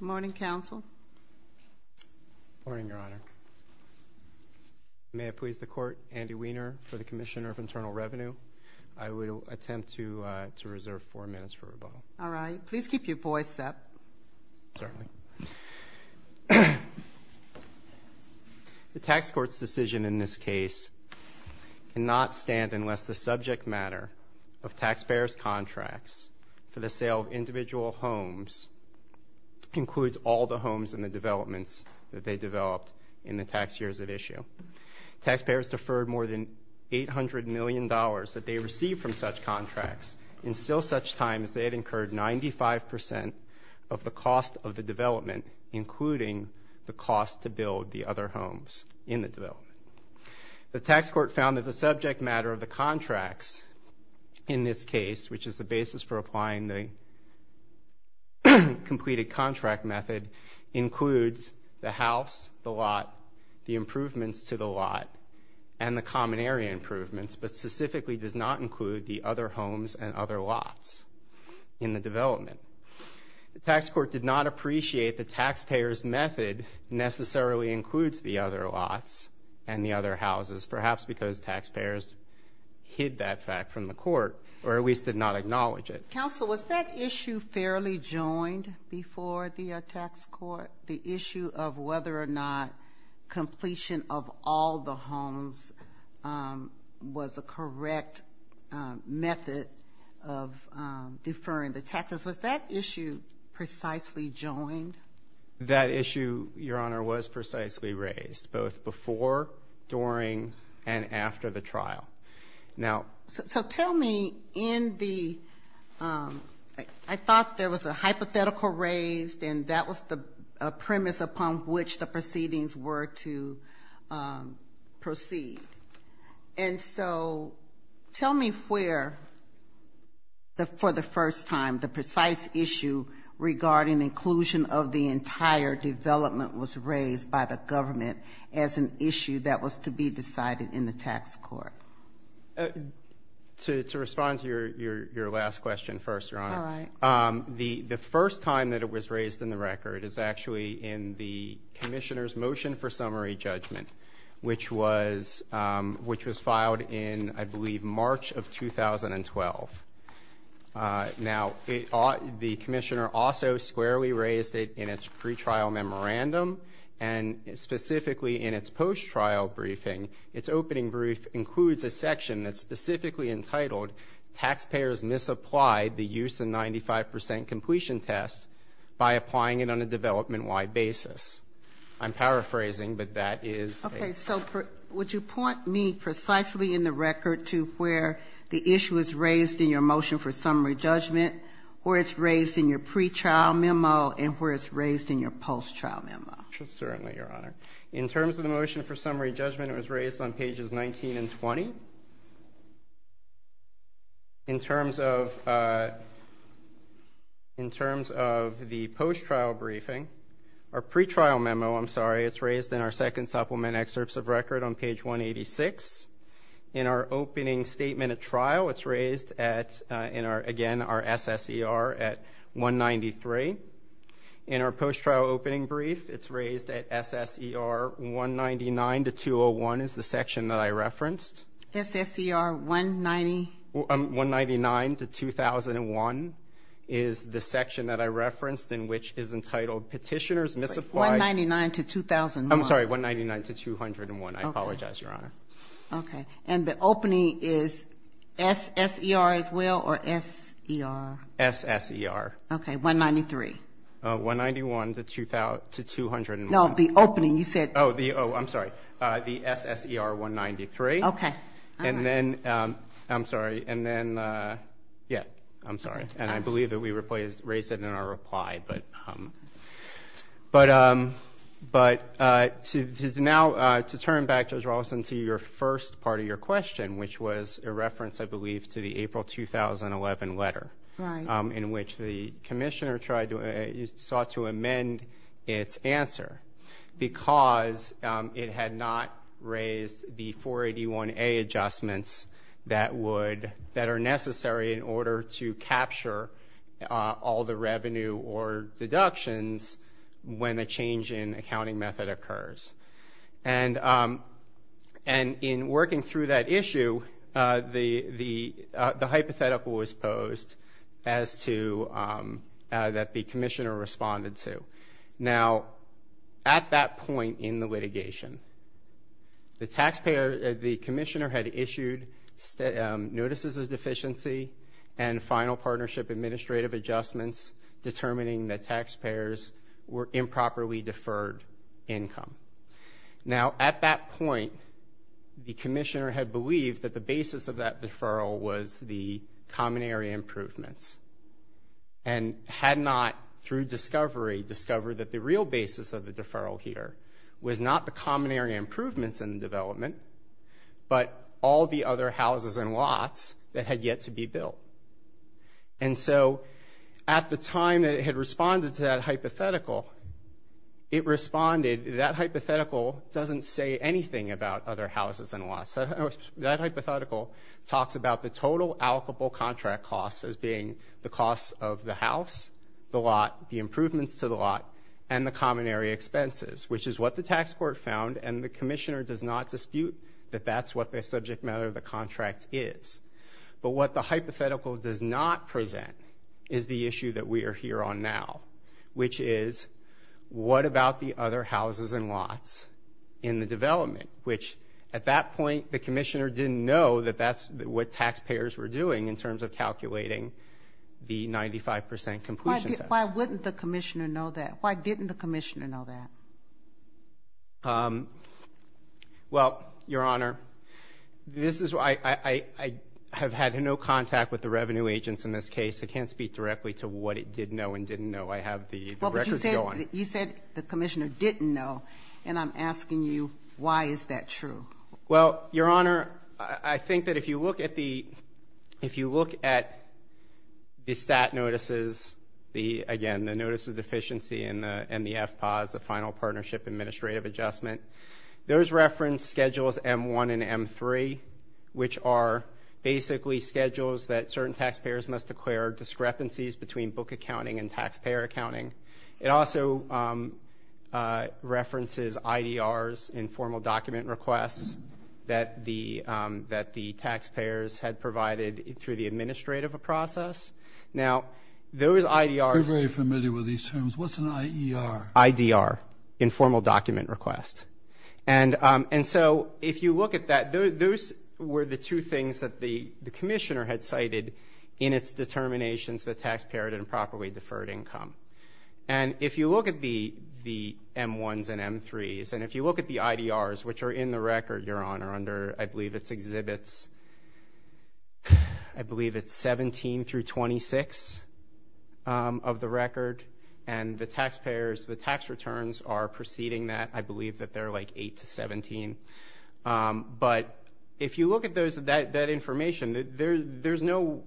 Good morning, Counsel. Good morning, Your Honor. May it please the Court, Andy Weiner for the Commissioner of Internal Revenue. I will attempt to reserve four minutes for rebuttal. All right. Please keep your voice up. Certainly. The tax court's decision in this case cannot stand unless the subject matter of taxpayers' contracts for the sale of individual homes includes all the homes in the developments that they developed in the tax years at issue. Taxpayers deferred more than $800 million that they received from such contracts in still such time as they had incurred 95% of the cost of the development, including the cost to build the other homes in the development. The tax court found that the subject matter of the contracts in this case, which is the basis for applying the completed contract method, includes the house, the lot, the improvements to the lot, and the common area improvements, but specifically does not include the other homes and other lots in the development. The tax court did not appreciate the taxpayers' method necessarily includes the other lots and the other houses, perhaps because taxpayers hid that fact from the court or at least did not acknowledge it. Counsel, was that issue fairly joined before the tax court, the issue of whether or not completion of all the homes was a correct method of deferring the taxes? Was that issue precisely joined? That issue, Your Honor, was precisely raised, both before, during, and after the trial. Now so tell me in the I thought there was a hypothetical raised and that was the premise upon which the proceedings were to proceed. And so tell me where, for the first time, the precise issue regarding inclusion of the entire development was raised by the government as an issue that was to be decided in the tax court. To respond to your last question first, Your Honor. All right. The first time that it was raised in the record is actually in the commissioner's motion for summary judgment, which was filed in, I believe, March of 2012. Now the commissioner also squarely raised it in its pretrial memorandum and specifically in its post-trial briefing. Its opening brief includes a section that's specifically entitled, Taxpayers Misapplied the Use of 95% Completion Test by Applying it on a Development-Wide Basis. I'm paraphrasing, but that is. Okay. So would you point me precisely in the record to where the issue is raised in your motion for summary judgment or it's raised in your pretrial memo and where it's raised in your post-trial memo? Certainly, Your Honor. In terms of the motion for summary judgment, it was raised on pages 19 and 20. In terms of the post-trial briefing, our pretrial memo, I'm sorry, it's raised in our second supplement excerpts of record on page 186. In our opening statement at trial, it's raised at, again, our SSER at 193. In our post-trial opening brief, it's raised at SSER 199 to 201 is the section that I referenced. SSER 190? 199 to 2001 is the section that I referenced in which is entitled Petitioners Misapplied. 199 to 2001. I'm sorry, 199 to 201. I apologize, Your Honor. Okay. And the opening is SSER as well or S-E-R? S-S-E-R. Okay, 193. 191 to 201. No, the opening. You said. Oh, I'm sorry. The SSER 193. Okay, all right. And then, I'm sorry, and then, yeah, I'm sorry. And I believe that we raised it in our reply. But now to turn back, Judge Rawlinson, to your first part of your question, which was a reference, I believe, to the April 2011 letter. Right. In which the Commissioner sought to amend its answer because it had not raised the 481A adjustments that would, that are necessary in order to capture all the revenue or deductions when a change in accounting method occurs. And in working through that issue, the hypothetical was posed as to that the Commissioner responded to. Now, at that point in the litigation, the taxpayer, the Commissioner had issued notices of deficiency and final partnership administrative adjustments determining that taxpayers were improperly deferred income. Now, at that point, the Commissioner had believed that the basis of that deferral was the common area improvements and had not, through discovery, discovered that the real basis of the deferral here was not the common area improvements in the development, but all the other houses and lots that had yet to be built. And so, at the time that it had responded to that hypothetical, it responded, that hypothetical doesn't say anything about other houses and lots. That hypothetical talks about the total allocable contract costs as being the costs of the house, the lot, the improvements to the lot, and the common area expenses, which is what the tax court found, and the Commissioner does not dispute that that's what the subject matter of the contract is. But what the hypothetical does not present is the issue that we are here on now, which is, what about the other houses and lots in the development, which, at that point, the Commissioner didn't know that that's what taxpayers were doing in terms of calculating the 95 percent completion test. Why wouldn't the Commissioner know that? Why didn't the Commissioner know that? Well, Your Honor, this is why I have had no contact with the revenue agents in this case. I can't speak directly to what it did know and didn't know. I have the records going. You said the Commissioner didn't know, and I'm asking you, why is that true? Well, Your Honor, I think that if you look at the stat notices, again, the notice of deficiency and the FPAAS, the Final Partnership Administrative Adjustment, those reference schedules M-1 and M-3, which are basically schedules that certain taxpayers must acquire, discrepancies between book accounting and taxpayer accounting. It also references IDRs, informal document requests, that the taxpayers had provided through the administrative process. Now, those IDRs. We're very familiar with these terms. What's an IER? IDR, informal document request. And so if you look at that, those were the two things that the Commissioner had cited in its determinations that taxpayer had improperly deferred income. And if you look at the M-1s and M-3s, and if you look at the IDRs, which are in the record, Your Honor, under I believe it's exhibits, I believe it's 17 through 26 of the record, and the taxpayers, the tax returns are preceding that. I believe that they're like 8 to 17. But if you look at that information, there's no,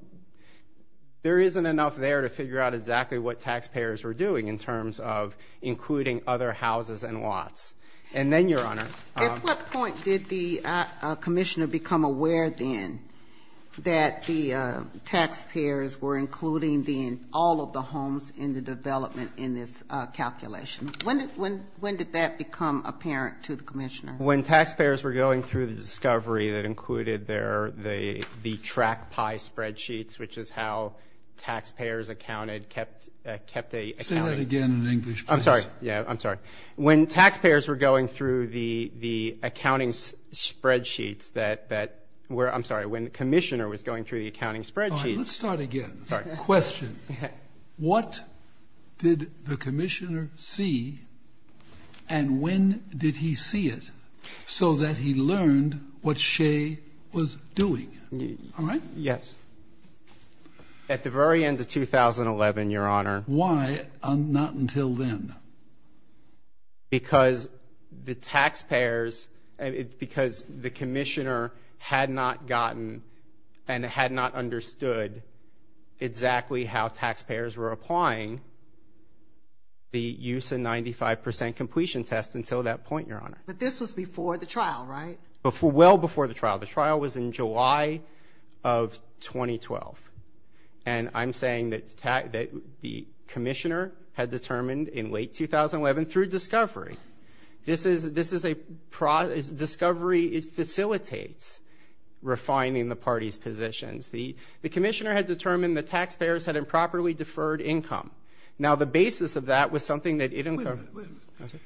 there isn't enough there to figure out exactly what taxpayers were doing in terms of including other houses and lots. And then, Your Honor. At what point did the Commissioner become aware then that the taxpayers were including then all of the homes in the development in this calculation? When did that become apparent to the Commissioner? When taxpayers were going through the discovery that included their, the track pie spreadsheets, which is how taxpayers accounted, kept a. Say that again in English, please. I'm sorry. Yeah, I'm sorry. When taxpayers were going through the accounting spreadsheets that were, I'm sorry, when the Commissioner was going through the accounting spreadsheets. All right, let's start again. Sorry. Question. What did the Commissioner see, and when did he see it, so that he learned what Shea was doing? All right? Yes. At the very end of 2011, Your Honor. Why not until then? Because the taxpayers, because the Commissioner had not gotten and had not understood exactly how taxpayers were applying the use and 95% completion test until that point, Your Honor. But this was before the trial, right? Well before the trial. The trial was in July of 2012. And I'm saying that the Commissioner had determined in late 2011 through discovery. This is a discovery. It facilitates refining the party's positions. The Commissioner had determined the taxpayers had improperly deferred income. Now, the basis of that was something that it incurred. Wait a minute.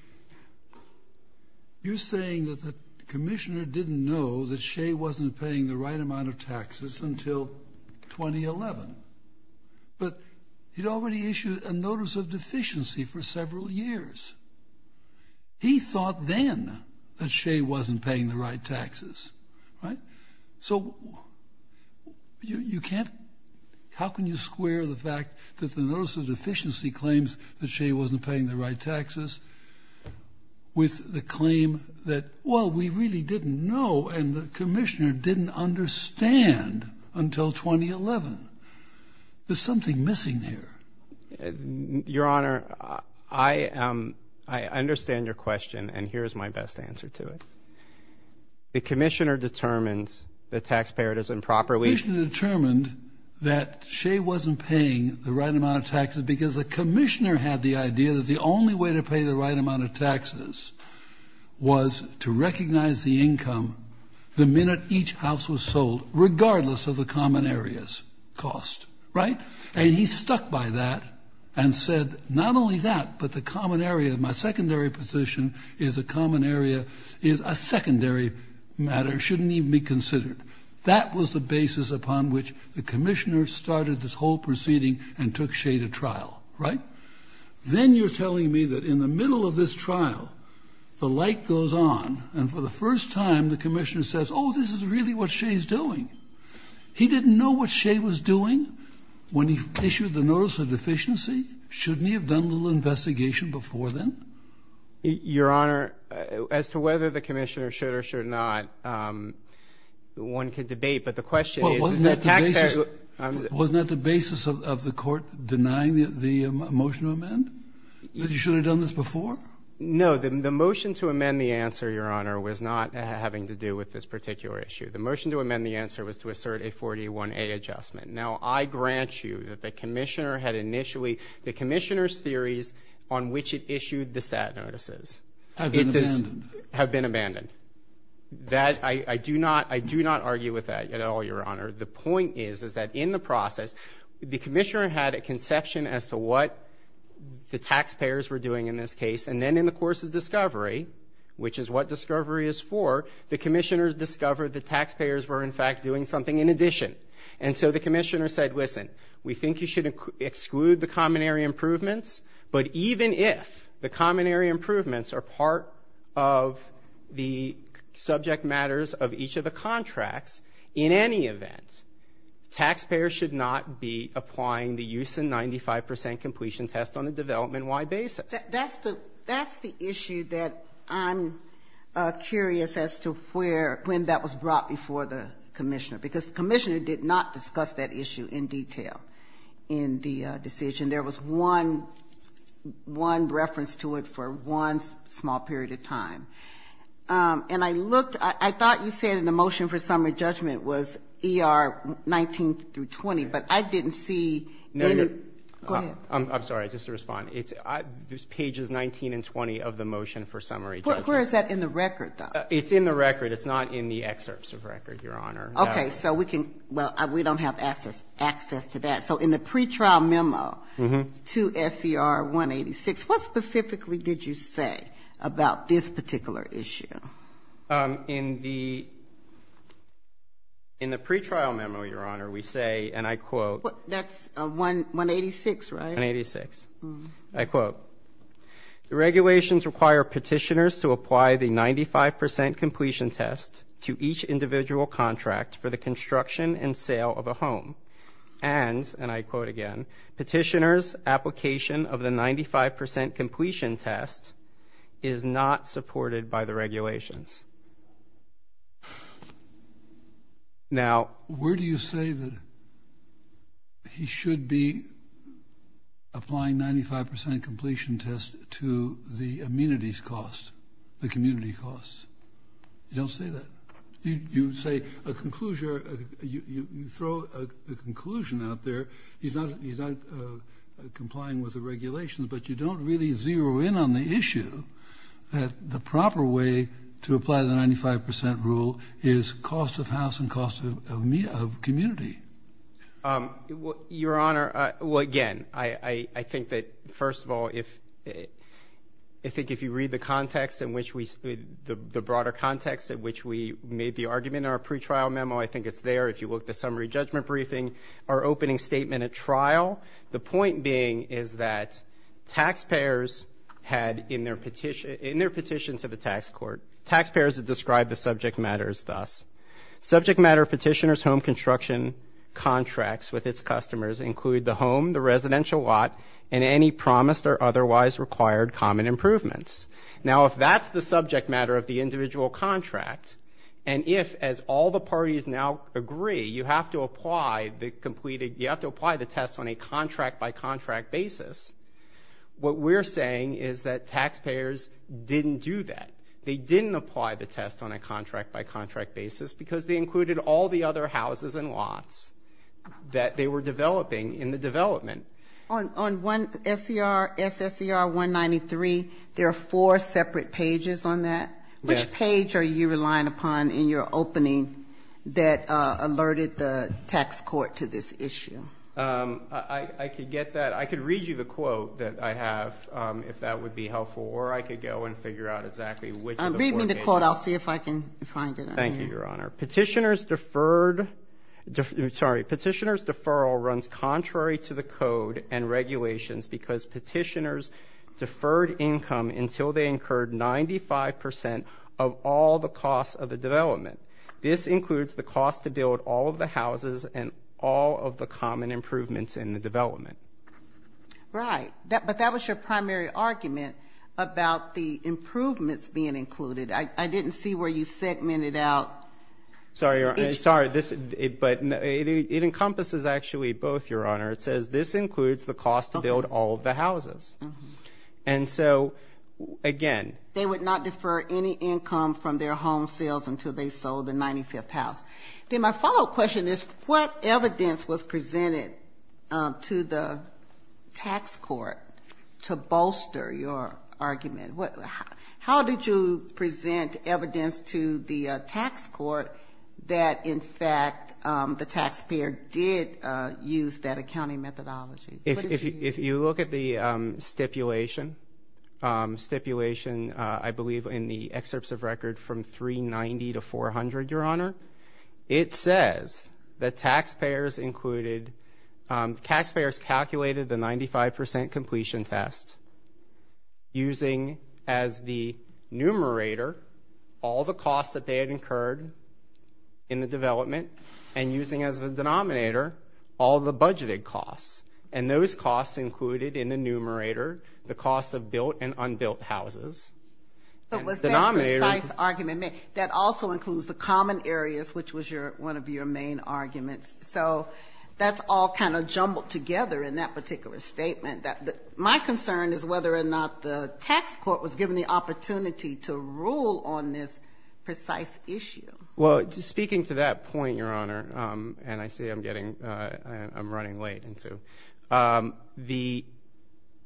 You're saying that the Commissioner didn't know that Shea wasn't paying the right amount of taxes until 2011. But he'd already issued a notice of deficiency for several years. He thought then that Shea wasn't paying the right taxes, right? So you can't, how can you square the fact that the notice of deficiency claims that Shea wasn't paying the right taxes with the claim that, well, we really didn't know and the Commissioner didn't understand until 2011. There's something missing here. Your Honor, I understand your question, and here is my best answer to it. The Commissioner determined the taxpayer doesn't properly. The Commissioner determined that Shea wasn't paying the right amount of taxes because the Commissioner had the idea that the only way to pay the right amount of taxes was to recognize the income the minute each house was sold, regardless of the common area's cost, right? And he stuck by that and said, not only that, but the common area, my secondary position is a common area is a secondary matter, shouldn't even be considered. That was the basis upon which the Commissioner started this whole proceeding and took Shea to trial, right? Then you're telling me that in the middle of this trial, the light goes on, and for the first time the Commissioner says, oh, this is really what Shea's doing. He didn't know what Shea was doing when he issued the notice of deficiency. Shouldn't he have done a little investigation before then? Your Honor, as to whether the Commissioner should or should not, one can debate. But the question is, is the taxpayer ---- Wasn't that the basis of the Court denying the motion to amend, that you should have done this before? No. The motion to amend the answer, Your Honor, was not having to do with this particular issue. The motion to amend the answer was to assert a 41A adjustment. Now, I grant you that the Commissioner had initially the Commissioner's theories on which it issued the stat notices. Have been abandoned. Have been abandoned. I do not argue with that at all, Your Honor. The point is, is that in the process, the Commissioner had a conception as to what the taxpayers were doing in this case, and then in the course of discovery, which is what discovery is for, the Commissioner discovered the taxpayers were, in fact, doing something in addition. And so the Commissioner said, listen, we think you should exclude the common area improvements, but even if the common area improvements are part of the subject matters of each of the contracts, in any event, taxpayers should not be applying the use and 95 percent completion test on a development-wide basis. That's the issue that I'm curious as to where, when that was brought before the Commissioner. Because the Commissioner did not discuss that issue in detail in the decision. There was one reference to it for one small period of time. And I looked, I thought you said in the motion for summary judgment was ER 19 through 20, but I didn't see any. Go ahead. I'm sorry, just to respond. It's pages 19 and 20 of the motion for summary judgment. Where is that in the record, though? It's in the record. It's not in the excerpts of record, Your Honor. Okay. So we can, well, we don't have access to that. So in the pretrial memo to SCR 186, what specifically did you say about this particular issue? In the pretrial memo, Your Honor, we say, and I quote. That's 186, right? 186. I quote, The regulations require petitioners to apply the 95 percent completion test to each individual contract for the construction and sale of a home. And, and I quote again, petitioners' application of the 95 percent completion test is not supported by the regulations. Now. Where do you say that he should be applying 95 percent completion test to the amenities cost, the community cost? You don't say that. You say a conclusion, you throw a conclusion out there, he's not complying with the regulations, but you don't really zero in on the issue that the proper way to apply the 95 percent rule is cost of house and cost of community. Your Honor, well, again, I think that, first of all, I think if you read the context in which we, the broader context in which we made the argument in our pretrial memo, I think it's there. If you look at the summary judgment briefing, our opening statement at trial, the point being is that taxpayers had in their petition, in their petition to the tax court, taxpayers had described the subject matters thus. Subject matter petitioners' home construction contracts with its customers include the home, the residential lot, and any promised or otherwise required common improvements. Now, if that's the subject matter of the individual contract, and if, as all the parties now agree, you have to apply the completed, you have to apply the test on a contract-by-contract basis, what we're saying is that taxpayers didn't do that. They didn't apply the test on a contract-by-contract basis because they included all the other houses and lots that they were developing in the development. On one SCR, SSCR 193, there are four separate pages on that. Which page are you relying upon in your opening that alerted the tax court to this issue? I could get that. I could read you the quote that I have, if that would be helpful, or I could go and figure out exactly which of the four pages. Read me the quote. I'll see if I can find it on here. Thank you, Your Honor. Petitioners' deferred, sorry, petitioners' deferral runs contrary to the code and regulations because petitioners deferred income until they incurred 95 percent of all the costs of the development. This includes the cost to build all of the houses and all of the common improvements in the development. Right. But that was your primary argument about the improvements being included. I didn't see where you segmented out. Sorry, Your Honor. Sorry. But it encompasses actually both, Your Honor. It says this includes the cost to build all of the houses. And so, again. They would not defer any income from their home sales until they sold the 95th house. Then my follow-up question is what evidence was presented to the tax court to bolster your argument? How did you present evidence to the tax court that, in fact, the taxpayer did use that accounting methodology? If you look at the stipulation, stipulation I believe in the excerpts of record from 390 to 400, Your Honor, it says that taxpayers included, taxpayers calculated the 95 percent completion test using as the numerator all the costs that they had incurred in the development and using as the denominator all the budgeted costs. And those costs included in the numerator the costs of built and unbuilt houses. But was that a precise argument? That also includes the common areas, which was one of your main arguments. So that's all kind of jumbled together in that particular statement. My concern is whether or not the tax court was given the opportunity to rule on this precise issue. Well, speaking to that point, Your Honor, and I see I'm running late.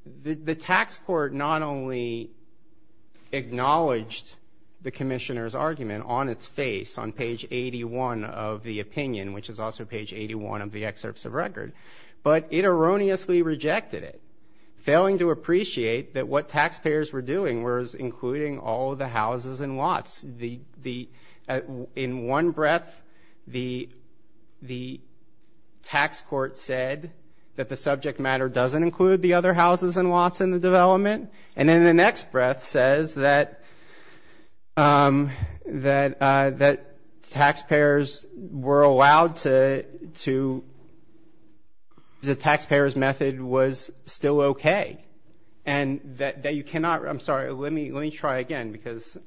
The tax court not only acknowledged the commissioner's argument on its face on page 81 of the opinion, which is also page 81 of the excerpts of record, but it erroneously rejected it, failing to appreciate that what taxpayers were doing was including all of the houses and lots. In one breath, the tax court said that the subject matter doesn't include the other houses and lots in the development, and in the next breath says that taxpayers were allowed to the taxpayer's method was still okay. And that you cannot, I'm sorry, let me try again, because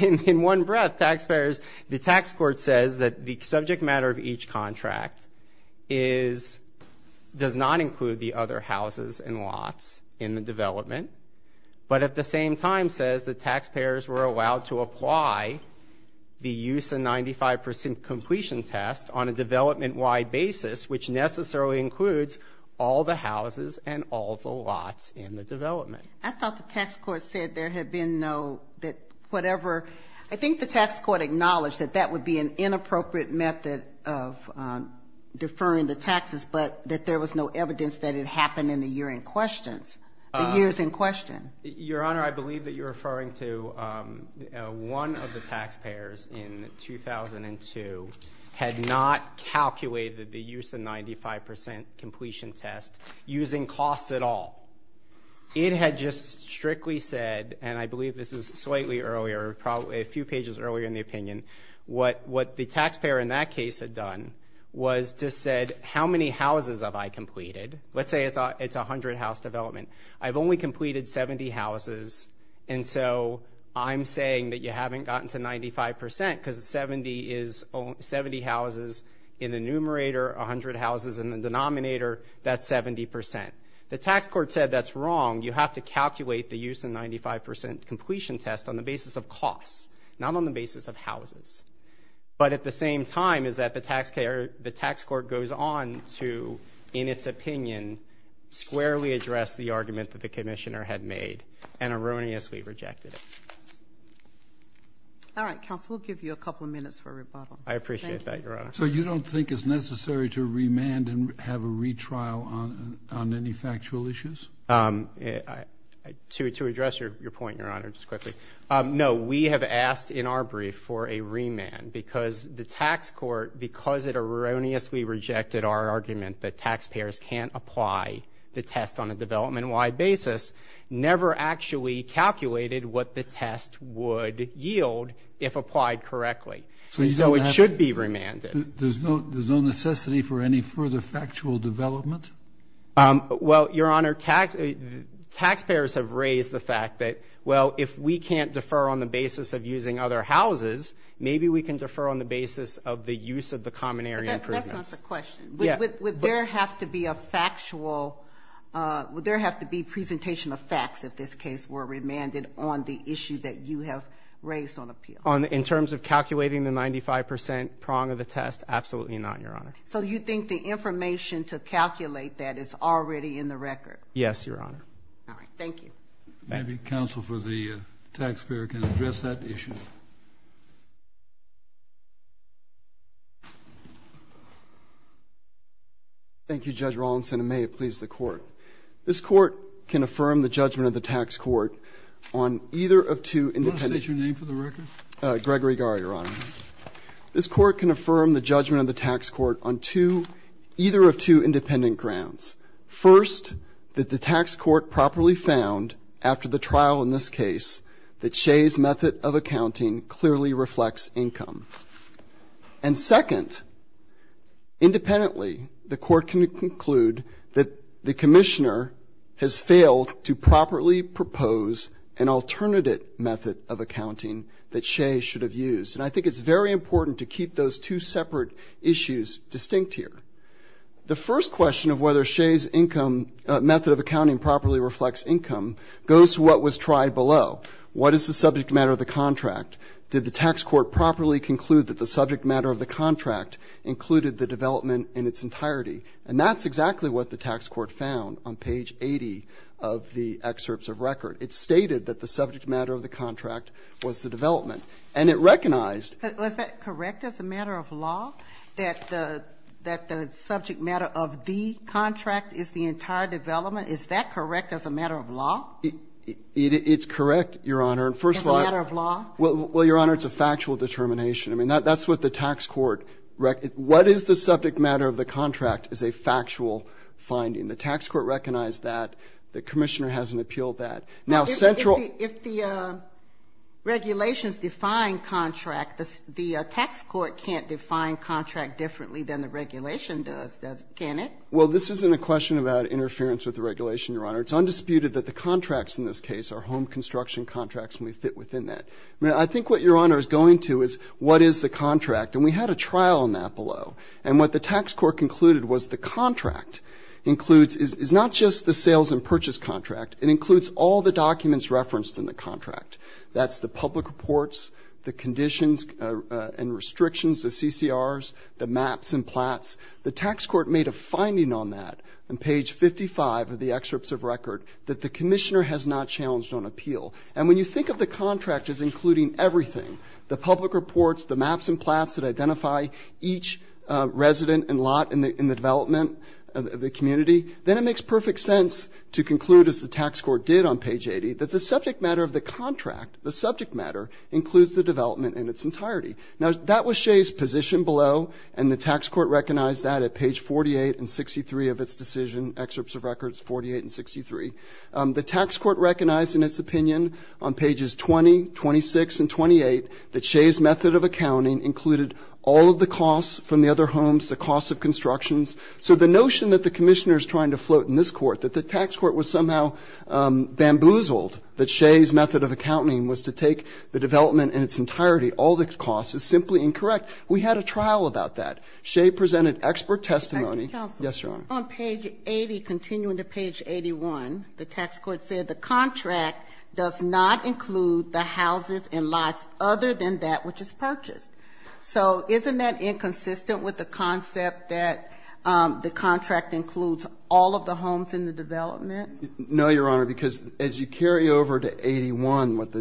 in one breath, taxpayers, the tax court says that the subject matter of each contract is, does not include the other houses and lots in the development, but at the same time says that taxpayers were allowed to apply the use of 95 percent completion test on a development-wide basis, which necessarily includes all the houses and all the lots in the development. I thought the tax court said there had been no, that whatever. I think the tax court acknowledged that that would be an inappropriate method of deferring the taxes, but that there was no evidence that it happened in the year in question, the years in question. Your Honor, I believe that you're referring to one of the taxpayers in 2002 had not calculated the use of 95 percent completion test using costs at all. It had just strictly said, and I believe this is slightly earlier, probably a few pages earlier in the opinion, what the taxpayer in that case had done was just said, how many houses have I completed? Let's say it's 100 house development. I've only completed 70 houses, and so I'm saying that you haven't gotten to 95 percent because 70 is, 70 houses in the numerator, 100 houses in the denominator, that's 70 percent. The tax court said that's wrong. You have to calculate the use of 95 percent completion test on the basis of costs, not on the basis of houses. But at the same time is that the tax court goes on to, in its opinion, squarely address the argument that the commissioner had made and erroneously rejected it. All right, counsel, we'll give you a couple of minutes for rebuttal. I appreciate that, Your Honor. So you don't think it's necessary to remand and have a retrial on any factual issues? To address your point, Your Honor, just quickly, no. We have asked in our brief for a remand because the tax court, because it erroneously rejected our argument that taxpayers can't apply the test on a development-wide basis, never actually calculated what the test would yield if applied correctly. So it should be remanded. There's no necessity for any further factual development? Well, Your Honor, taxpayers have raised the fact that, well, if we can't defer on the basis of using other houses, maybe we can defer on the basis of the use of the common area improvement. That's not the question. Would there have to be a factual, would there have to be presentation of facts, if this case were remanded on the issue that you have raised on appeal? In terms of calculating the 95 percent prong of the test, absolutely not, Your Honor. So you think the information to calculate that is already in the record? Yes, Your Honor. All right. Thank you. Maybe counsel for the taxpayer can address that issue. Thank you, Judge Rawlinson, and may it please the Court. This Court can affirm the judgment of the tax court on either of two independent. Do you want to state your name for the record? Gregory Gar, Your Honor. This Court can affirm the judgment of the tax court on two, either of two independent grounds. First, that the tax court properly found after the trial in this case that Shea's method of accounting clearly reflects income. And second, independently, the Court can conclude that the Commissioner has failed to properly propose an alternative method of accounting that Shea should have used. And I think it's very important to keep those two separate issues distinct here. The first question of whether Shea's method of accounting properly reflects income goes to what was tried below. What is the subject matter of the contract? Did the tax court properly conclude that the subject matter of the contract included the development in its entirety? And that's exactly what the tax court found on page 80 of the excerpts of record. It stated that the subject matter of the contract was the development. And it recognized. But was that correct as a matter of law, that the subject matter of the contract is the entire development? Is that correct as a matter of law? It's correct, Your Honor. As a matter of law? Well, Your Honor, it's a factual determination. I mean, that's what the tax court ---- what is the subject matter of the contract is a factual finding. The tax court recognized that. The Commissioner hasn't appealed that. Now, central ---- If the regulations define contract, the tax court can't define contract differently than the regulation does, can it? Well, this isn't a question about interference with the regulation, Your Honor. It's undisputed that the contracts in this case are home construction contracts and we fit within that. I mean, I think what Your Honor is going to is what is the contract. And we had a trial on that below. And what the tax court concluded was the contract includes is not just the sales and purchase contract. It includes all the documents referenced in the contract. That's the public reports, the conditions and restrictions, the CCRs, the maps and plats. The tax court made a finding on that on page 55 of the excerpts of record that the Commissioner has not challenged on appeal. And when you think of the contract as including everything, the public reports, the maps and plats that identify each resident and lot in the development of the community, then it makes perfect sense to conclude, as the tax court did on page 80, that the subject matter of the contract, the subject matter, includes the development in its entirety. Now, that was Shea's position below, and the tax court recognized that at page 48 and 63 of its decision, excerpts of records 48 and 63. The tax court recognized in its opinion on pages 20, 26, and 28 that Shea's method of accounting included all of the costs from the other homes, the costs of constructions. So the notion that the Commissioner is trying to float in this court, that the tax court was somehow bamboozled, that Shea's method of accounting was to take the development in its entirety, all the costs, is simply incorrect. We had a trial about that. Shea presented expert testimony. Yes, Your Honor. Ginsburg. On page 80, continuing to page 81, the tax court said the contract does not include the houses and lots other than that which is purchased. So isn't that inconsistent with the concept that the contract includes all of the homes in the development? No, Your Honor, because as you carry over to 81, what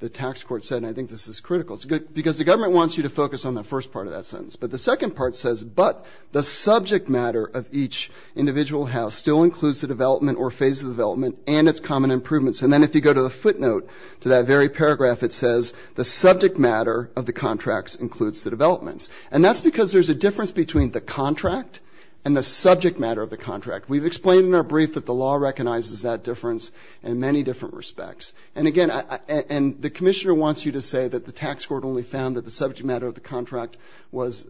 the tax court said, and I think this is critical. Because the government wants you to focus on the first part of that sentence. But the second part says, but the subject matter of each individual house still includes the development or phase of development and its common improvements. And then if you go to the footnote to that very paragraph, it says the subject matter of the contracts includes the developments. And that's because there's a difference between the contract and the subject matter of the contract. We've explained in our brief that the law recognizes that difference in many different respects. And, again, and the commissioner wants you to say that the tax court only found that the subject matter of the contract was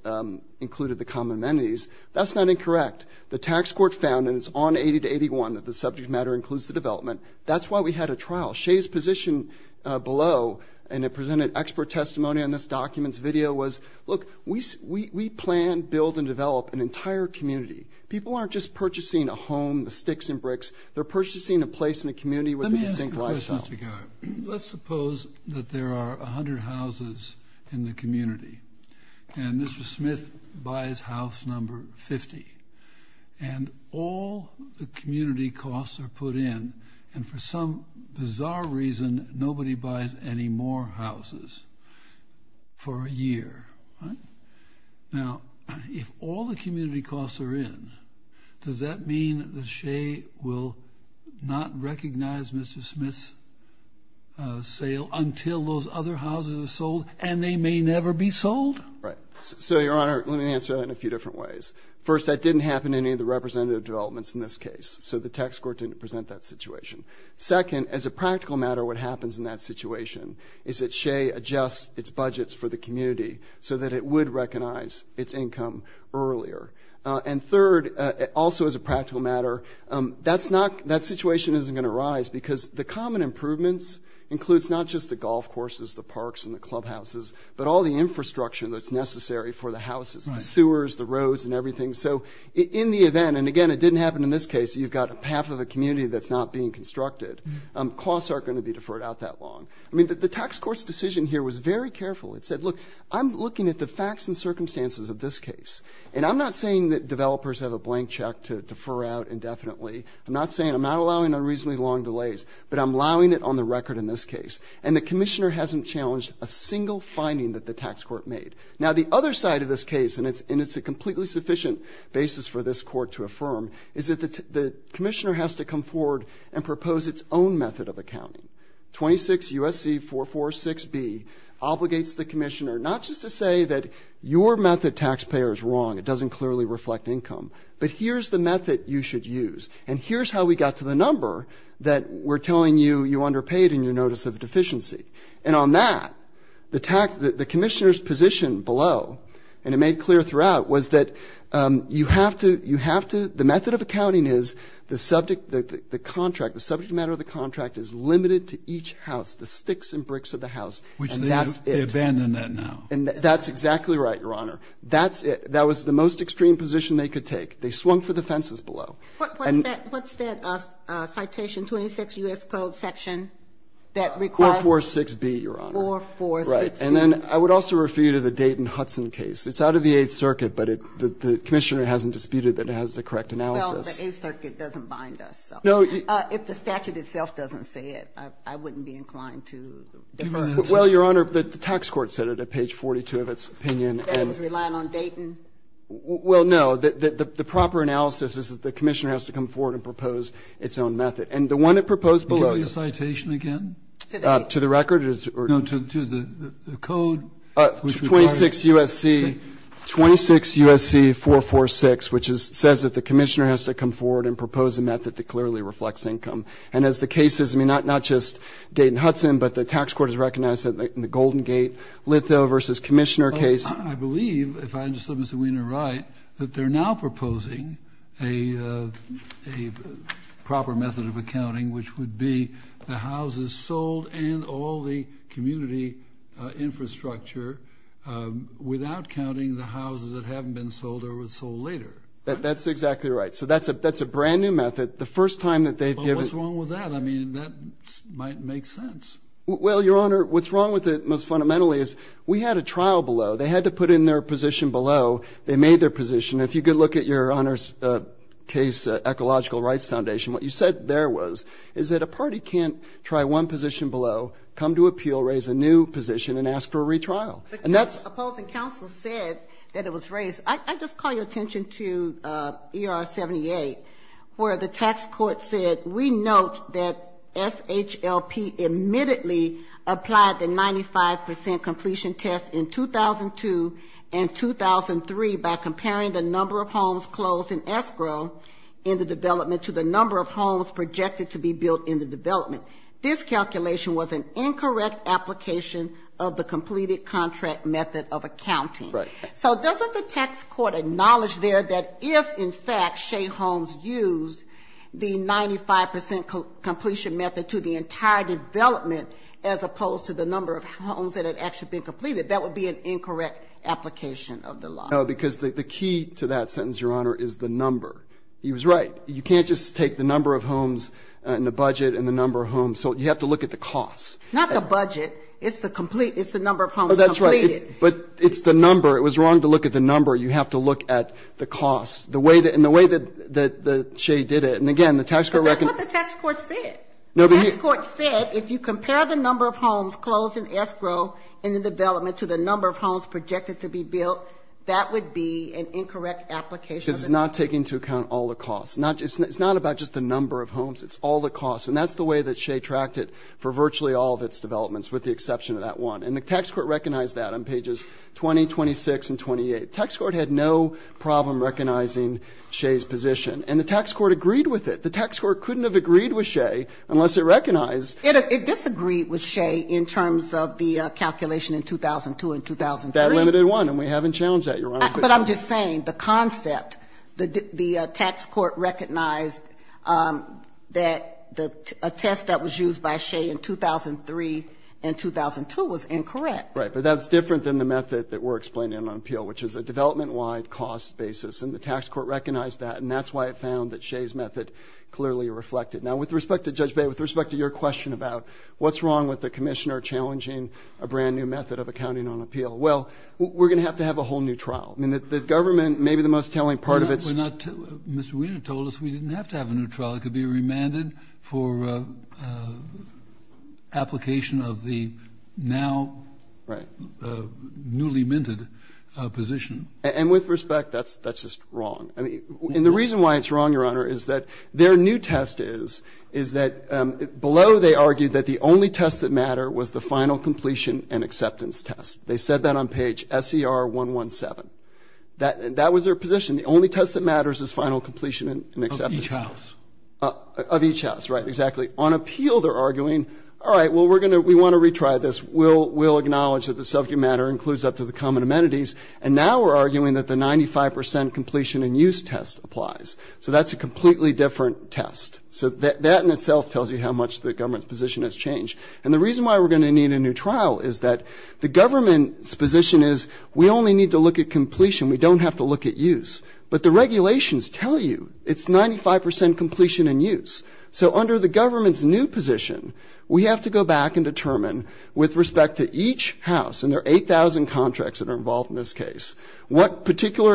included the common amenities. That's not incorrect. The tax court found, and it's on 80 to 81, that the subject matter includes the development. That's why we had a trial. Shea's position below, and it presented expert testimony on this document's video, was, look, we plan, build, and develop an entire community. People aren't just purchasing a home, the sticks and bricks. They're purchasing a place in a community with a distinct lifestyle. Let's suppose that there are 100 houses in the community. And Mr. Smith buys house number 50. And all the community costs are put in. And for some bizarre reason, nobody buys any more houses for a year. Now, if all the community costs are in, does that mean that Shea will not recognize Mr. Smith's sale until those other houses are sold and they may never be sold? Right. So, Your Honor, let me answer that in a few different ways. First, that didn't happen in any of the representative developments in this case. So the tax court didn't present that situation. Second, as a practical matter, what happens in that situation is that Shea adjusts its budgets for the community so that it would recognize its income earlier. And third, also as a practical matter, that situation isn't going to rise, because the common improvements includes not just the golf courses, the parks, and the clubhouses, but all the infrastructure that's necessary for the houses, the sewers, the roads, and everything. So in the event, and again, it didn't happen in this case, you've got half of a community that's not being constructed, costs aren't going to be deferred out that long. I mean, the tax court's decision here was very careful. It said, look, I'm looking at the facts and circumstances of this case, and I'm not saying that developers have a blank check to defer out indefinitely. I'm not saying I'm not allowing unreasonably long delays, but I'm allowing it on the record in this case. And the commissioner hasn't challenged a single finding that the tax court made. Now, the other side of this case, and it's a completely sufficient basis for this court to affirm, is that the commissioner has to come forward and propose its own method of accounting. 26 U.S.C. 446B obligates the commissioner not just to say that your method, taxpayer, is wrong, it doesn't clearly reflect income, but here's the method you should use, and here's how we got to the number that we're telling you you underpaid in your notice of deficiency. And on that, the tax, the commissioner's position below, and it made clear throughout, was that you have to, you have to, the method of accounting is the subject, the contract, the subject matter of the contract is limited to each house, the sticks and bricks of the house, and that's it. And that's exactly right, Your Honor. That's it. That was the most extreme position they could take. They swung for the fences below. What's that citation, 26 U.S. Code section that requires? 446B, Your Honor. 446B. Right. And then I would also refer you to the Dayton-Hudson case. It's out of the Eighth Circuit, but the commissioner hasn't disputed that it has the correct analysis. Well, the Eighth Circuit doesn't bind us. No. If the statute itself doesn't say it, I wouldn't be inclined to defer. Well, Your Honor, the tax court said it at page 42 of its opinion. That it was relying on Dayton? Well, no. The proper analysis is that the commissioner has to come forward and propose its own method. And the one it proposed below. Can you give me the citation again? To the record? No, to the code. 26 U.S.C. 446, which says that the commissioner has to come forward and propose a method that clearly reflects income. And as the case is, I mean, not just Dayton-Hudson, but the tax court has recognized that in the Golden Gate, Litho v. Commissioner case. I believe, if I understood Mr. Wiener right, that they're now proposing a proper method of accounting, which would be the houses sold and all the community infrastructure without counting the houses that haven't been sold or were sold later. That's exactly right. So that's a brand-new method. The first time that they've given it. Well, what's wrong with that? I mean, that might make sense. Well, Your Honor, what's wrong with it most fundamentally is we had a trial below. They had to put in their position below. They made their position. If you could look at Your Honor's case, Ecological Rights Foundation, what you said there was is that a party can't try one position below, come to appeal, raise a new position, and ask for a retrial. But the opposing counsel said that it was raised. I just call your attention to ER-78, where the tax court said we note that SHLP admittedly applied the 95% completion test in 2002 and 2003 by comparing the number of homes closed in escrow in the development to the number of homes projected to be built in the development. This calculation was an incorrect application of the completed contract method of accounting. Right. So doesn't the tax court acknowledge there that if, in fact, Shea Holmes used the as opposed to the number of homes that had actually been completed, that would be an incorrect application of the law? No, because the key to that sentence, Your Honor, is the number. He was right. You can't just take the number of homes and the budget and the number of homes. So you have to look at the cost. Not the budget. It's the complete. It's the number of homes completed. Oh, that's right. But it's the number. It was wrong to look at the number. You have to look at the cost. And the way that Shea did it, and again, the tax court reckoned. But that's what the tax court said. The tax court said if you compare the number of homes closed in escrow in the development to the number of homes projected to be built, that would be an incorrect application of the law. Because it's not taking into account all the costs. It's not about just the number of homes. It's all the costs. And that's the way that Shea tracked it for virtually all of its developments with the exception of that one. And the tax court recognized that on pages 20, 26, and 28. The tax court had no problem recognizing Shea's position. And the tax court agreed with it. The tax court couldn't have agreed with Shea unless it recognized. It disagreed with Shea in terms of the calculation in 2002 and 2003. That limited one. And we haven't challenged that, Your Honor. But I'm just saying the concept, the tax court recognized that a test that was used by Shea in 2003 and 2002 was incorrect. Right. But that's different than the method that we're explaining on appeal, which is a development-wide cost basis. And the tax court recognized that. And that's why it found that Shea's method clearly reflected. Now, with respect to Judge Bey, with respect to your question about what's wrong with the commissioner challenging a brand-new method of accounting on appeal, well, we're going to have to have a whole new trial. I mean, the government, maybe the most telling part of it is we're not too Mr. Weiner told us we didn't have to have a new trial. It could be remanded for application of the now newly minted position. And with respect, that's just wrong. And the reason why it's wrong, Your Honor, is that their new test is, is that below they argued that the only test that mattered was the final completion and acceptance test. They said that on page SER117. That was their position. The only test that matters is final completion and acceptance. Of each house. Of each house, right. Exactly. On appeal, they're arguing, all right, well, we're going to we want to retry this. We'll acknowledge that the subject matter includes up to the common amenities. And now we're arguing that the 95% completion and use test applies. So that's a completely different test. So that in itself tells you how much the government's position has changed. And the reason why we're going to need a new trial is that the government's position is we only need to look at completion. We don't have to look at use. But the regulations tell you it's 95% completion and use. So under the government's new position, we have to go back and determine with particular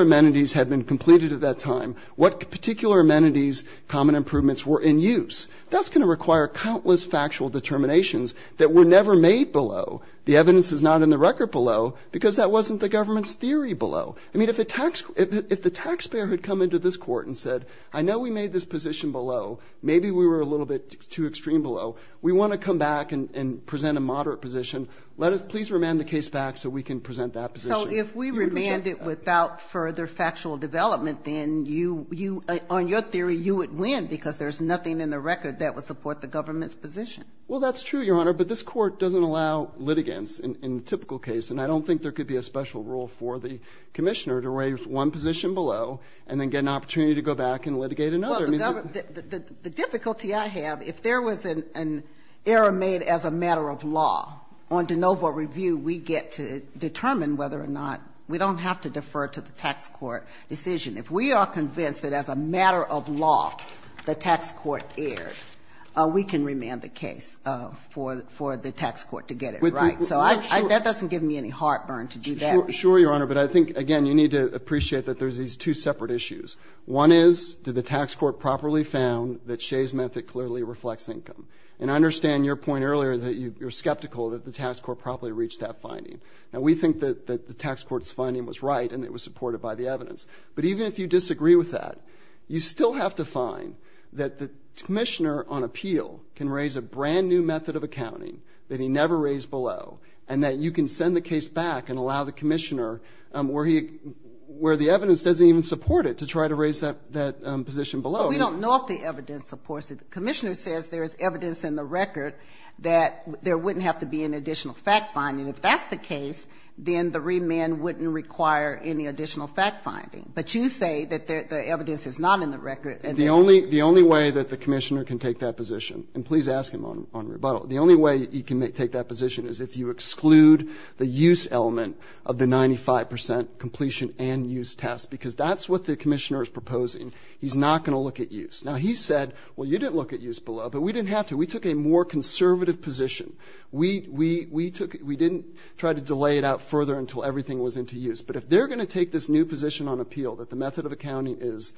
amenities had been completed at that time, what particular amenities common improvements were in use. That's going to require countless factual determinations that were never made below. The evidence is not in the record below because that wasn't the government's theory below. I mean, if the taxpayer had come into this court and said, I know we made this position below. Maybe we were a little bit too extreme below. We want to come back and present a moderate position. Please remand the case back so we can present that position. So if we remand it without further factual development, then on your theory, you would win because there's nothing in the record that would support the government's position. Well, that's true, Your Honor. But this court doesn't allow litigants in a typical case. And I don't think there could be a special rule for the commissioner to raise one position below and then get an opportunity to go back and litigate another. Well, the difficulty I have, if there was an error made as a matter of law on an oval review, we get to determine whether or not we don't have to defer to the tax court decision. If we are convinced that as a matter of law the tax court erred, we can remand the case for the tax court to get it right. So that doesn't give me any heartburn to do that. Sure, Your Honor. But I think, again, you need to appreciate that there's these two separate issues. One is, did the tax court properly found that Shea's method clearly reflects your point earlier that you're skeptical that the tax court properly reached that finding. Now, we think that the tax court's finding was right and it was supported by the evidence. But even if you disagree with that, you still have to find that the commissioner on appeal can raise a brand-new method of accounting that he never raised below and that you can send the case back and allow the commissioner, where the evidence doesn't even support it, to try to raise that position below. Well, we don't know if the evidence supports it. The commissioner says there's evidence in the record that there wouldn't have to be an additional fact finding. If that's the case, then the remand wouldn't require any additional fact finding. But you say that the evidence is not in the record. The only way that the commissioner can take that position, and please ask him on rebuttal, the only way he can take that position is if you exclude the use element of the 95 percent completion and use test, because that's what the commissioner is proposing. He's not going to look at use. Now, he said, well, you didn't look at use below, but we didn't have to. We took a more conservative position. We didn't try to delay it out further until everything was into use. But if they're going to take this new position on appeal that the method of accounting is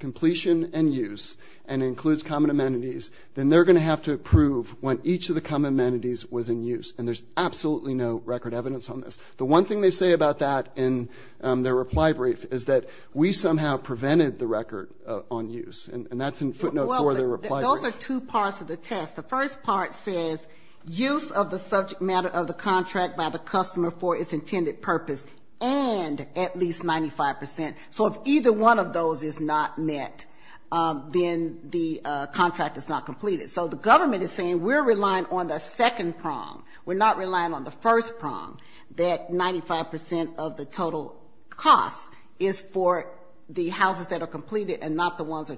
completion and use and includes common amenities, then they're going to have to approve when each of the common amenities was in use. And there's absolutely no record evidence on this. The one thing they say about that in their reply brief is that we somehow prevented the record on use. And that's in footnote 4 of their reply brief. Those are two parts of the test. The first part says use of the subject matter of the contract by the customer for its intended purpose and at least 95 percent. So if either one of those is not met, then the contract is not completed. So the government is saying we're relying on the second prong. We're not relying on the first prong, that 95 percent of the total cost is for the houses that are completed and not the ones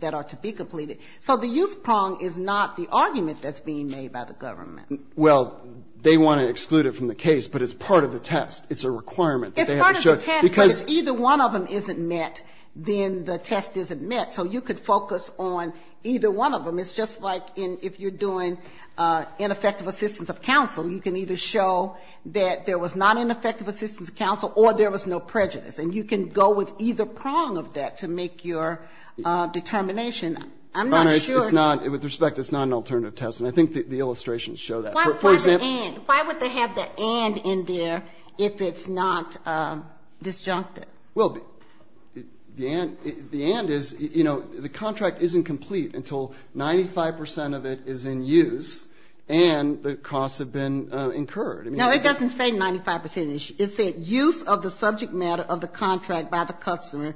that are to be completed. So the use prong is not the argument that's being made by the government. Well, they want to exclude it from the case, but it's part of the test. It's a requirement that they have to show. It's part of the test, but if either one of them isn't met, then the test isn't met. So you could focus on either one of them. It's just like if you're doing ineffective assistance of counsel, you can either show that there was not ineffective assistance of counsel or there was no prejudice. And you can go with either prong of that to make your determination. I'm not sure. It's not. With respect, it's not an alternative test. And I think the illustrations show that. Why would they have the and in there if it's not disjuncted? Well, the and is, you know, the contract isn't complete until 95 percent of it is in use and the costs have been incurred. No, it doesn't say 95 percent. It said use of the subject matter of the contract by the customer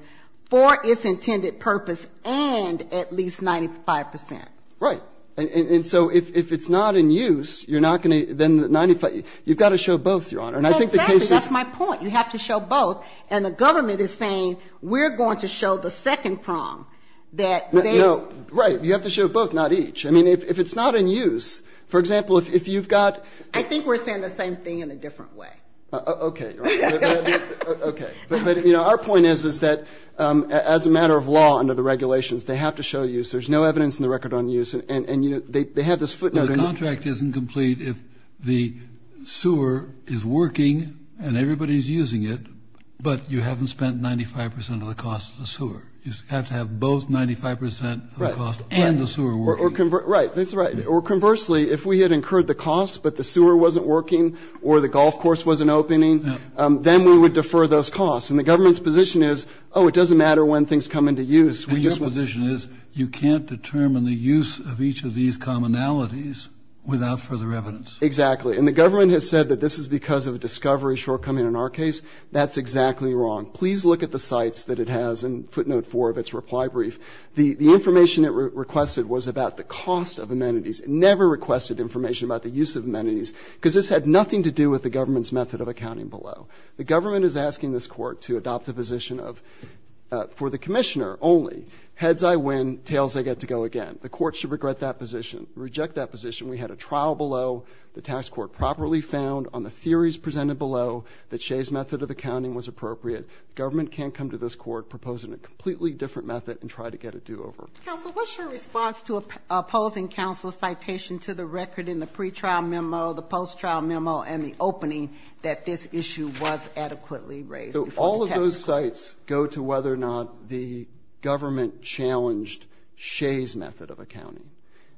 for its intended purpose and at least 95 percent. Right. And so if it's not in use, you're not going to then 95. You've got to show both, Your Honor. And I think the case is. Exactly. That's my point. You have to show both. And the government is saying we're going to show the second prong that they. Right. You have to show both, not each. I mean, if it's not in use, for example, if you've got. I think we're saying the same thing in a different way. Okay. Okay. But, you know, our point is, is that as a matter of law under the regulations, they have to show use. There's no evidence in the record on use. And, you know, they have this footnote. The contract isn't complete if the sewer is working and everybody is using it, but you haven't spent 95 percent of the cost of the sewer. You have to have both 95 percent of the cost and the sewer working. Right. That's right. Or conversely, if we had incurred the cost but the sewer wasn't working or the golf course wasn't opening, then we would defer those costs. And the government's position is, oh, it doesn't matter when things come into use. And your position is you can't determine the use of each of these commonalities without further evidence. Exactly. And the government has said that this is because of a discovery shortcoming in our case. That's exactly wrong. Please look at the sites that it has in footnote 4 of its reply brief. The information it requested was about the cost of amenities. It never requested information about the use of amenities, because this had nothing to do with the government's method of accounting below. The government is asking this Court to adopt a position of, for the Commissioner only, heads I win, tails I get to go again. The Court should regret that position, reject that position. We had a trial below. The tax court properly found on the theories presented below that Shea's method of accounting was appropriate. The government can't come to this Court proposing a completely different method and try to get a do-over. Counsel, what's your response to opposing counsel's citation to the record in the pre-trial memo, the post-trial memo, and the opening that this issue was adequately raised before the tax court? So all of those sites go to whether or not the government challenged Shea's method of accounting.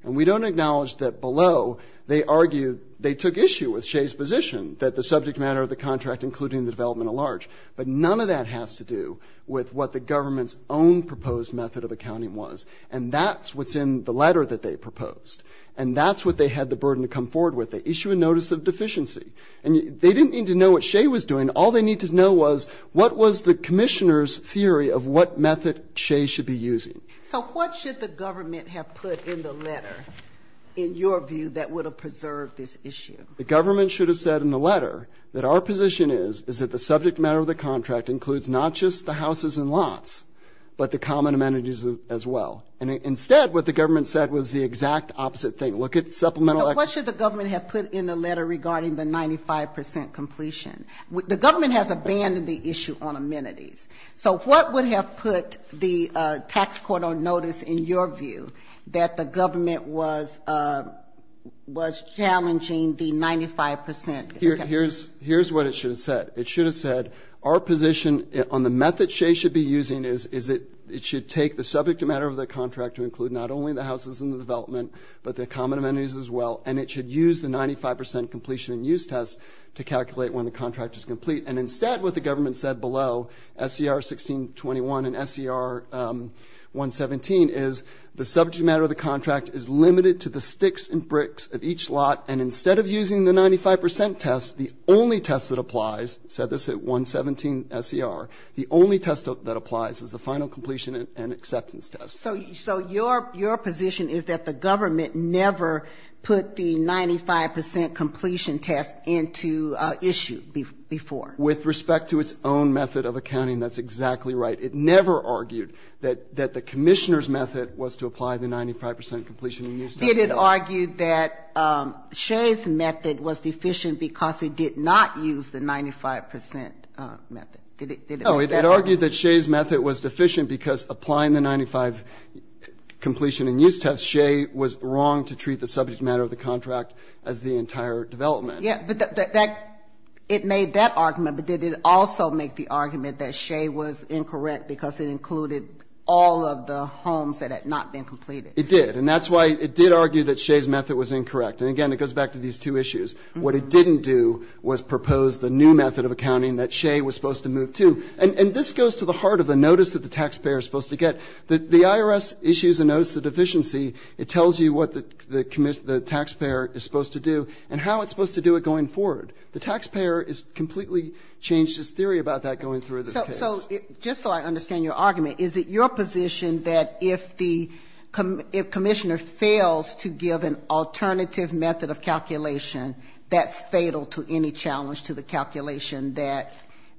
And we don't acknowledge that below they argued they took issue with Shea's position, that the subject matter of the contract, including the development at large. But none of that has to do with what the government's own proposed method of accounting was. And that's what's in the letter that they proposed. And that's what they had the burden to come forward with. They issue a notice of deficiency. And they didn't need to know what Shea was doing. All they needed to know was what was the Commissioner's theory of what method Shea should be using. So what should the government have put in the letter, in your view, that would have preserved this issue? The government should have said in the letter that our position is, is that the subject matter of the contract includes not just the houses and lots, but the common amenities as well. And instead, what the government said was the exact opposite thing. Look at supplemental actuals. But what should the government have put in the letter regarding the 95 percent completion? The government has abandoned the issue on amenities. So what would have put the tax court on notice, in your view, that the government was challenging the 95 percent? Here's what it should have said. It should have said, our position on the method Shea should be using is it should take the subject matter of the contract to include not only the houses and the development, but the common amenities as well. And it should use the 95 percent completion and use test to calculate when the contract is complete. And instead, what the government said below, SCR 1621 and SCR 117, is the subject matter of the contract is limited to the sticks and bricks of each lot. And instead of using the 95 percent test, the only test that applies, said this at 117 SCR, the only test that applies is the final completion and acceptance test. So your position is that the government never put the 95 percent completion test into issue before? With respect to its own method of accounting, that's exactly right. But it never argued that the Commissioner's method was to apply the 95 percent completion and use test. Did it argue that Shea's method was deficient because it did not use the 95 percent method? Did it make that argument? No. It argued that Shea's method was deficient because applying the 95 completion and use test, Shea was wrong to treat the subject matter of the contract as the entire development. Yes. But that, it made that argument. But did it also make the argument that Shea was incorrect because it included all of the homes that had not been completed? It did. And that's why it did argue that Shea's method was incorrect. And, again, it goes back to these two issues. What it didn't do was propose the new method of accounting that Shea was supposed to move to. And this goes to the heart of the notice that the taxpayer is supposed to get. The IRS issues a notice of deficiency. It tells you what the taxpayer is supposed to do and how it's supposed to do it going forward. The taxpayer has completely changed his theory about that going through this case. So just so I understand your argument, is it your position that if the commissioner fails to give an alternative method of calculation, that's fatal to any challenge to the calculation that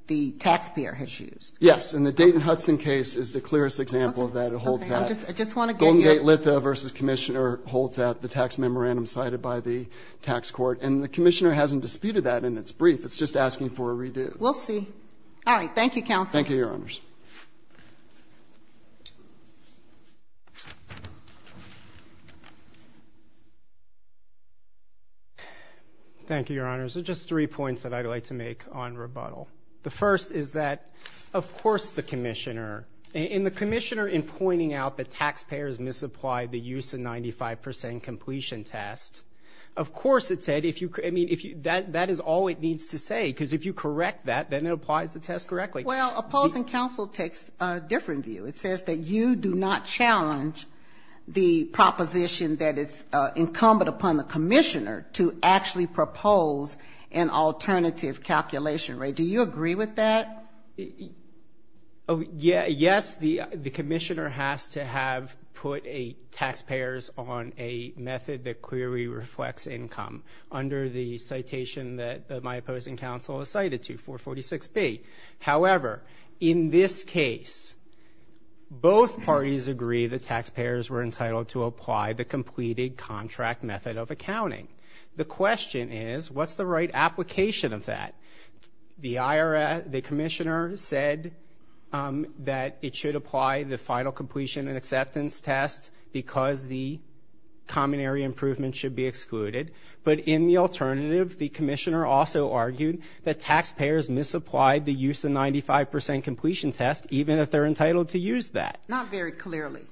the taxpayer has used? Yes. And the Dayton-Hudson case is the clearest example of that. It holds that. Okay. I just want to get your point. Goldengate-Litha v. Commissioner holds that. The tax memorandum cited by the tax court. And the commissioner hasn't disputed that in its brief. It's just asking for a redo. We'll see. All right. Thank you, counsel. Thank you, Your Honors. Thank you, Your Honors. There are just three points that I'd like to make on rebuttal. The first is that, of course, the commissioner, and the commissioner in pointing out that taxpayers misapplied the use of 95 percent completion test, of course it said, that is all it needs to say. Because if you correct that, then it applies the test correctly. Well, opposing counsel takes a different view. It says that you do not challenge the proposition that is incumbent upon the commissioner to actually propose an alternative calculation rate. Do you agree with that? Yes, the commissioner has to have put taxpayers on a method that clearly reflects income under the citation that my opposing counsel has cited to, 446B. However, in this case, both parties agree that taxpayers were entitled to apply the completed contract method of accounting. The question is, what's the right application of that? The commissioner said that it should apply the final completion and acceptance test because the common area improvement should be excluded. But in the alternative, the commissioner also argued that taxpayers misapplied the use of 95 percent completion test, even if they're entitled to use that. Not very clearly.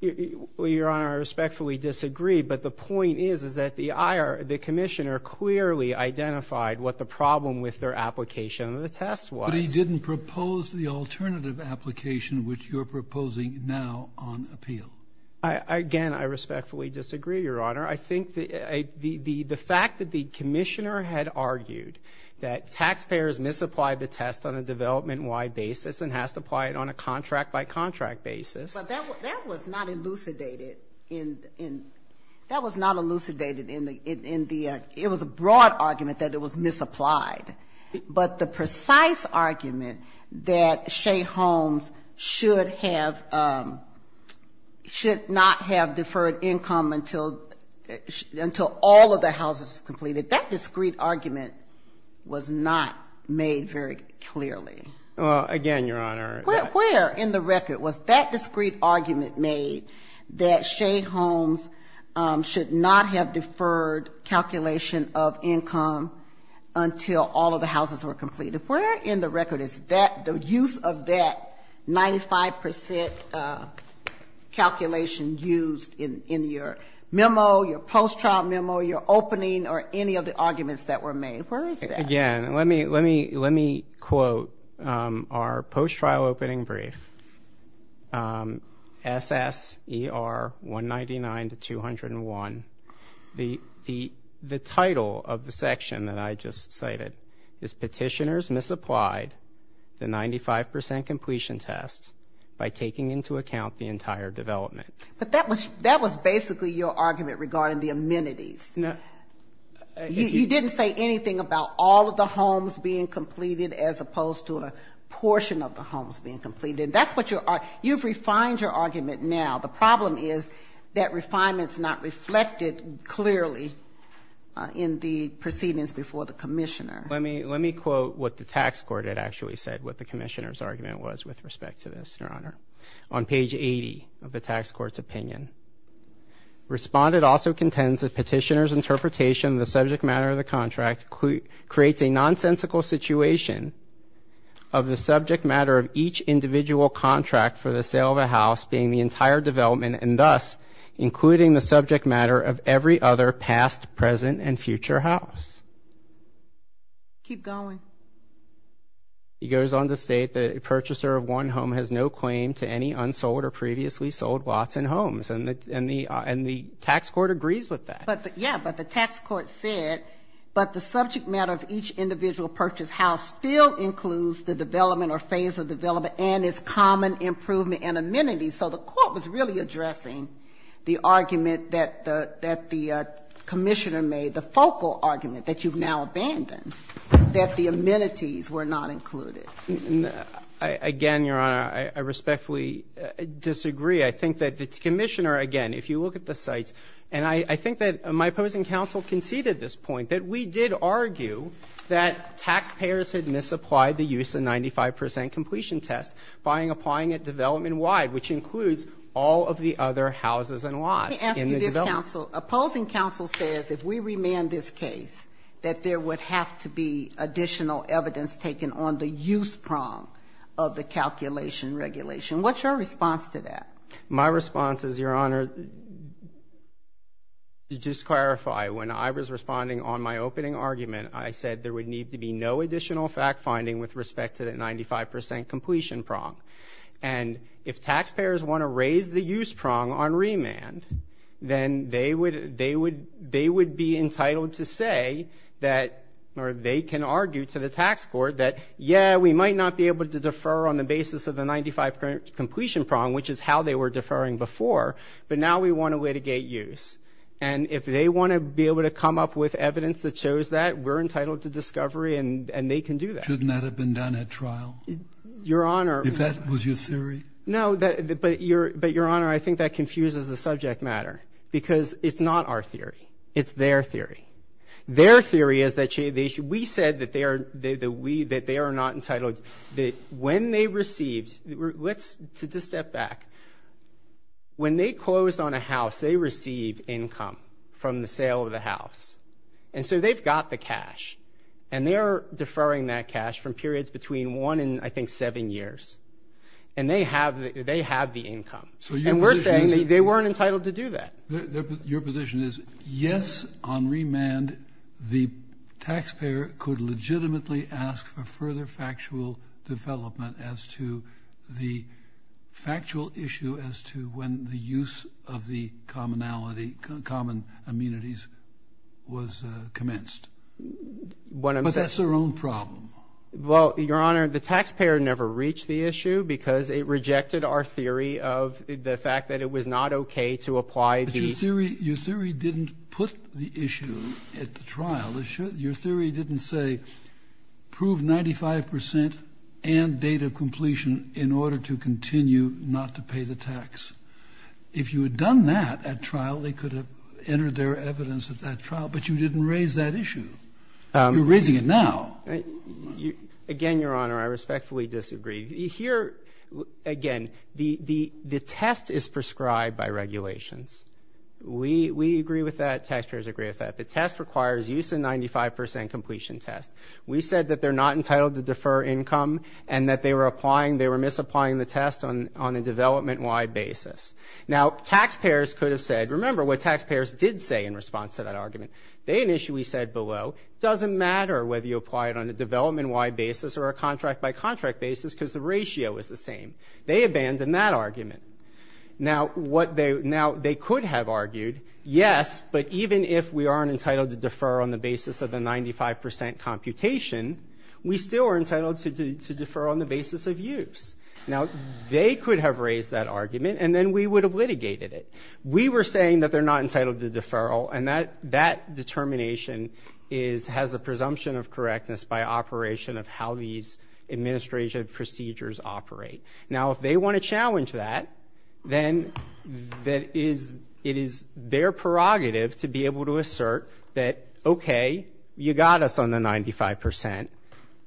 Your Honor, I respectfully disagree. But the point is, is that the commissioner clearly identified what the problem with their application of the test was. But he didn't propose the alternative application which you're proposing now on appeal. Again, I respectfully disagree, Your Honor. I think the fact that the commissioner had argued that taxpayers misapplied the test on a development-wide basis and has to apply it on a contract-by-contract basis. But that was not elucidated in the end. It was a broad argument that it was misapplied. But the precise argument that Shea Homes should have, should not have deferred income until all of the houses was completed, that discreet argument was not made very clearly. Again, Your Honor. Where in the record was that discreet argument made that Shea Homes should not have until all of the houses were completed? Where in the record is that, the use of that 95 percent calculation used in your memo, your post-trial memo, your opening, or any of the arguments that were made? Where is that? Again, let me quote our post-trial opening brief, SSER 199-201. The title of the section that I just cited is Petitioners Misapplied the 95 percent completion test by taking into account the entire development. But that was basically your argument regarding the amenities. You didn't say anything about all of the homes being completed as opposed to a portion of the homes being completed. You've refined your argument now. The problem is that refinement's not reflected clearly in the proceedings before the commissioner. Let me quote what the tax court had actually said, what the commissioner's argument was with respect to this, Your Honor, on page 80 of the tax court's opinion. Respondent also contends that Petitioner's interpretation of the subject matter of the development, and thus, including the subject matter of every other past, present, and future house. Keep going. He goes on to state that a purchaser of one home has no claim to any unsold or previously sold lots and homes. And the tax court agrees with that. But, yeah, but the tax court said, but the subject matter of each individual purchase house still includes the development or phase of development and its common improvement and amenities. So the court was really addressing the argument that the commissioner made, the focal argument that you've now abandoned, that the amenities were not included. Again, Your Honor, I respectfully disagree. I think that the commissioner, again, if you look at the sites, and I think that my opposing counsel conceded this point, that we did argue that taxpayers had misapplied the use of 95 percent completion test by applying it development-wide, which includes all of the other houses and lots in the development. Let me ask you this, counsel. Opposing counsel says if we remand this case that there would have to be additional evidence taken on the use prong of the calculation regulation. What's your response to that? My response is, Your Honor, to just clarify, when I was responding on my opening argument, I said there would need to be no additional fact-finding with respect to the 95 percent completion prong. And if taxpayers want to raise the use prong on remand, then they would be entitled to say that, or they can argue to the tax court that, yeah, we might not be able to defer on the basis of the 95 percent completion prong, which is how they were deferring before, but now we want to litigate use. And if they want to be able to come up with evidence that shows that, we're entitled to discovery and they can do that. Shouldn't that have been done at trial? Your Honor. If that was your theory? No, but, Your Honor, I think that confuses the subject matter, because it's not our theory. It's their theory. Their theory is that we said that they are not entitled. That when they received, let's just step back. When they closed on a house, they receive income from the sale of the house. And so they've got the cash and they are deferring that cash from periods between one and, I think, seven years. And they have the income. And we're saying they weren't entitled to do that. Your position is, yes, on remand, the taxpayer could legitimately ask for further factual development as to the factual issue as to when the use of the common amenities was commenced. But that's their own problem. Well, Your Honor, the taxpayer never reached the issue because it rejected our theory of the fact that it was not okay to apply the ---- But your theory didn't put the issue at the trial. Your theory didn't say prove 95 percent and date of completion in order to continue not to pay the tax. If you had done that at trial, they could have entered their evidence at that trial. But you didn't raise that issue. You're raising it now. Again, Your Honor, I respectfully disagree. Here, again, the test is prescribed by regulations. We agree with that. Taxpayers agree with that. The test requires use of 95 percent completion test. We said that they're not entitled to defer income and that they were applying, they were misapplying the test on a development-wide basis. Now, taxpayers could have said, remember what taxpayers did say in response to that argument. They initially said below, doesn't matter whether you apply it on a development-wide basis or a contract-by-contract basis because the ratio is the same. They abandoned that argument. Now, what they ---- Now, they could have argued, yes, but even if we aren't entitled to defer on the basis of the 95 percent computation, we still are entitled to defer on the basis of use. Now, they could have raised that argument, and then we would have litigated it. We were saying that they're not entitled to deferral, and that determination has the presumption of correctness by operation of how these administrative procedures operate. Now, if they want to challenge that, then that is ---- it is their prerogative to be able to assert that, okay, you got us on the 95 percent,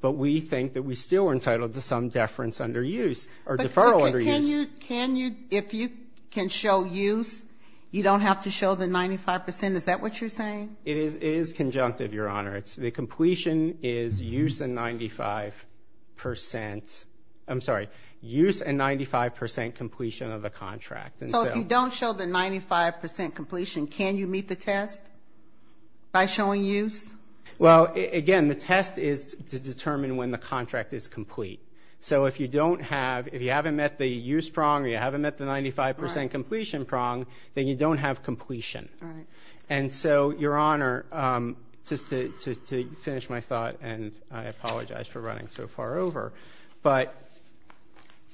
but we think that we still are entitled to some deference under use or deferral under use. If you can show use, you don't have to show the 95 percent. Is that what you're saying? It is conjunctive, Your Honor. The completion is use and 95 percent. I'm sorry, use and 95 percent completion of the contract. So if you don't show the 95 percent completion, can you meet the test by showing use? Well, again, the test is to determine when the contract is complete. So if you don't have ---- if you haven't met the use prong or you haven't met the 95 percent completion prong, then you don't have completion. All right. And so, Your Honor, just to finish my thought, and I apologize for running so far over, but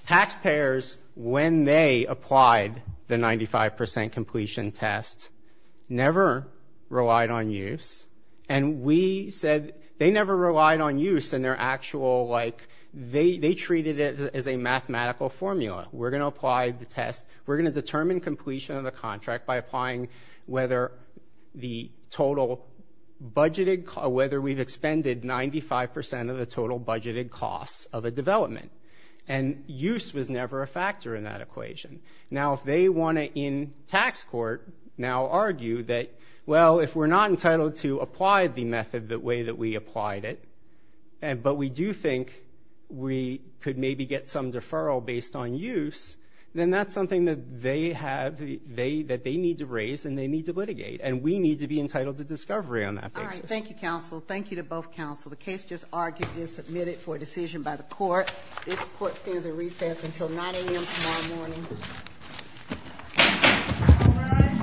taxpayers, when they applied the 95 percent completion test, never relied on use. And we said they never relied on use in their actual, like, they treated it as a mathematical formula. We're going to apply the test. We're going to determine completion of the contract by applying whether the total budgeted, whether we've expended 95 percent of the total budgeted costs of a development. And use was never a factor in that equation. Now, if they want to, in tax court, now argue that, well, if we're not entitled to apply the method the way that we applied it, but we do think we could maybe get some deferral based on use, then that's something that they need to raise and they need to litigate. And we need to be entitled to discovery on that basis. All right. Thank you, counsel. Thank you to both counsel. The case just argued is submitted for decision by the court. This court stands at recess until 9 a.m. tomorrow morning.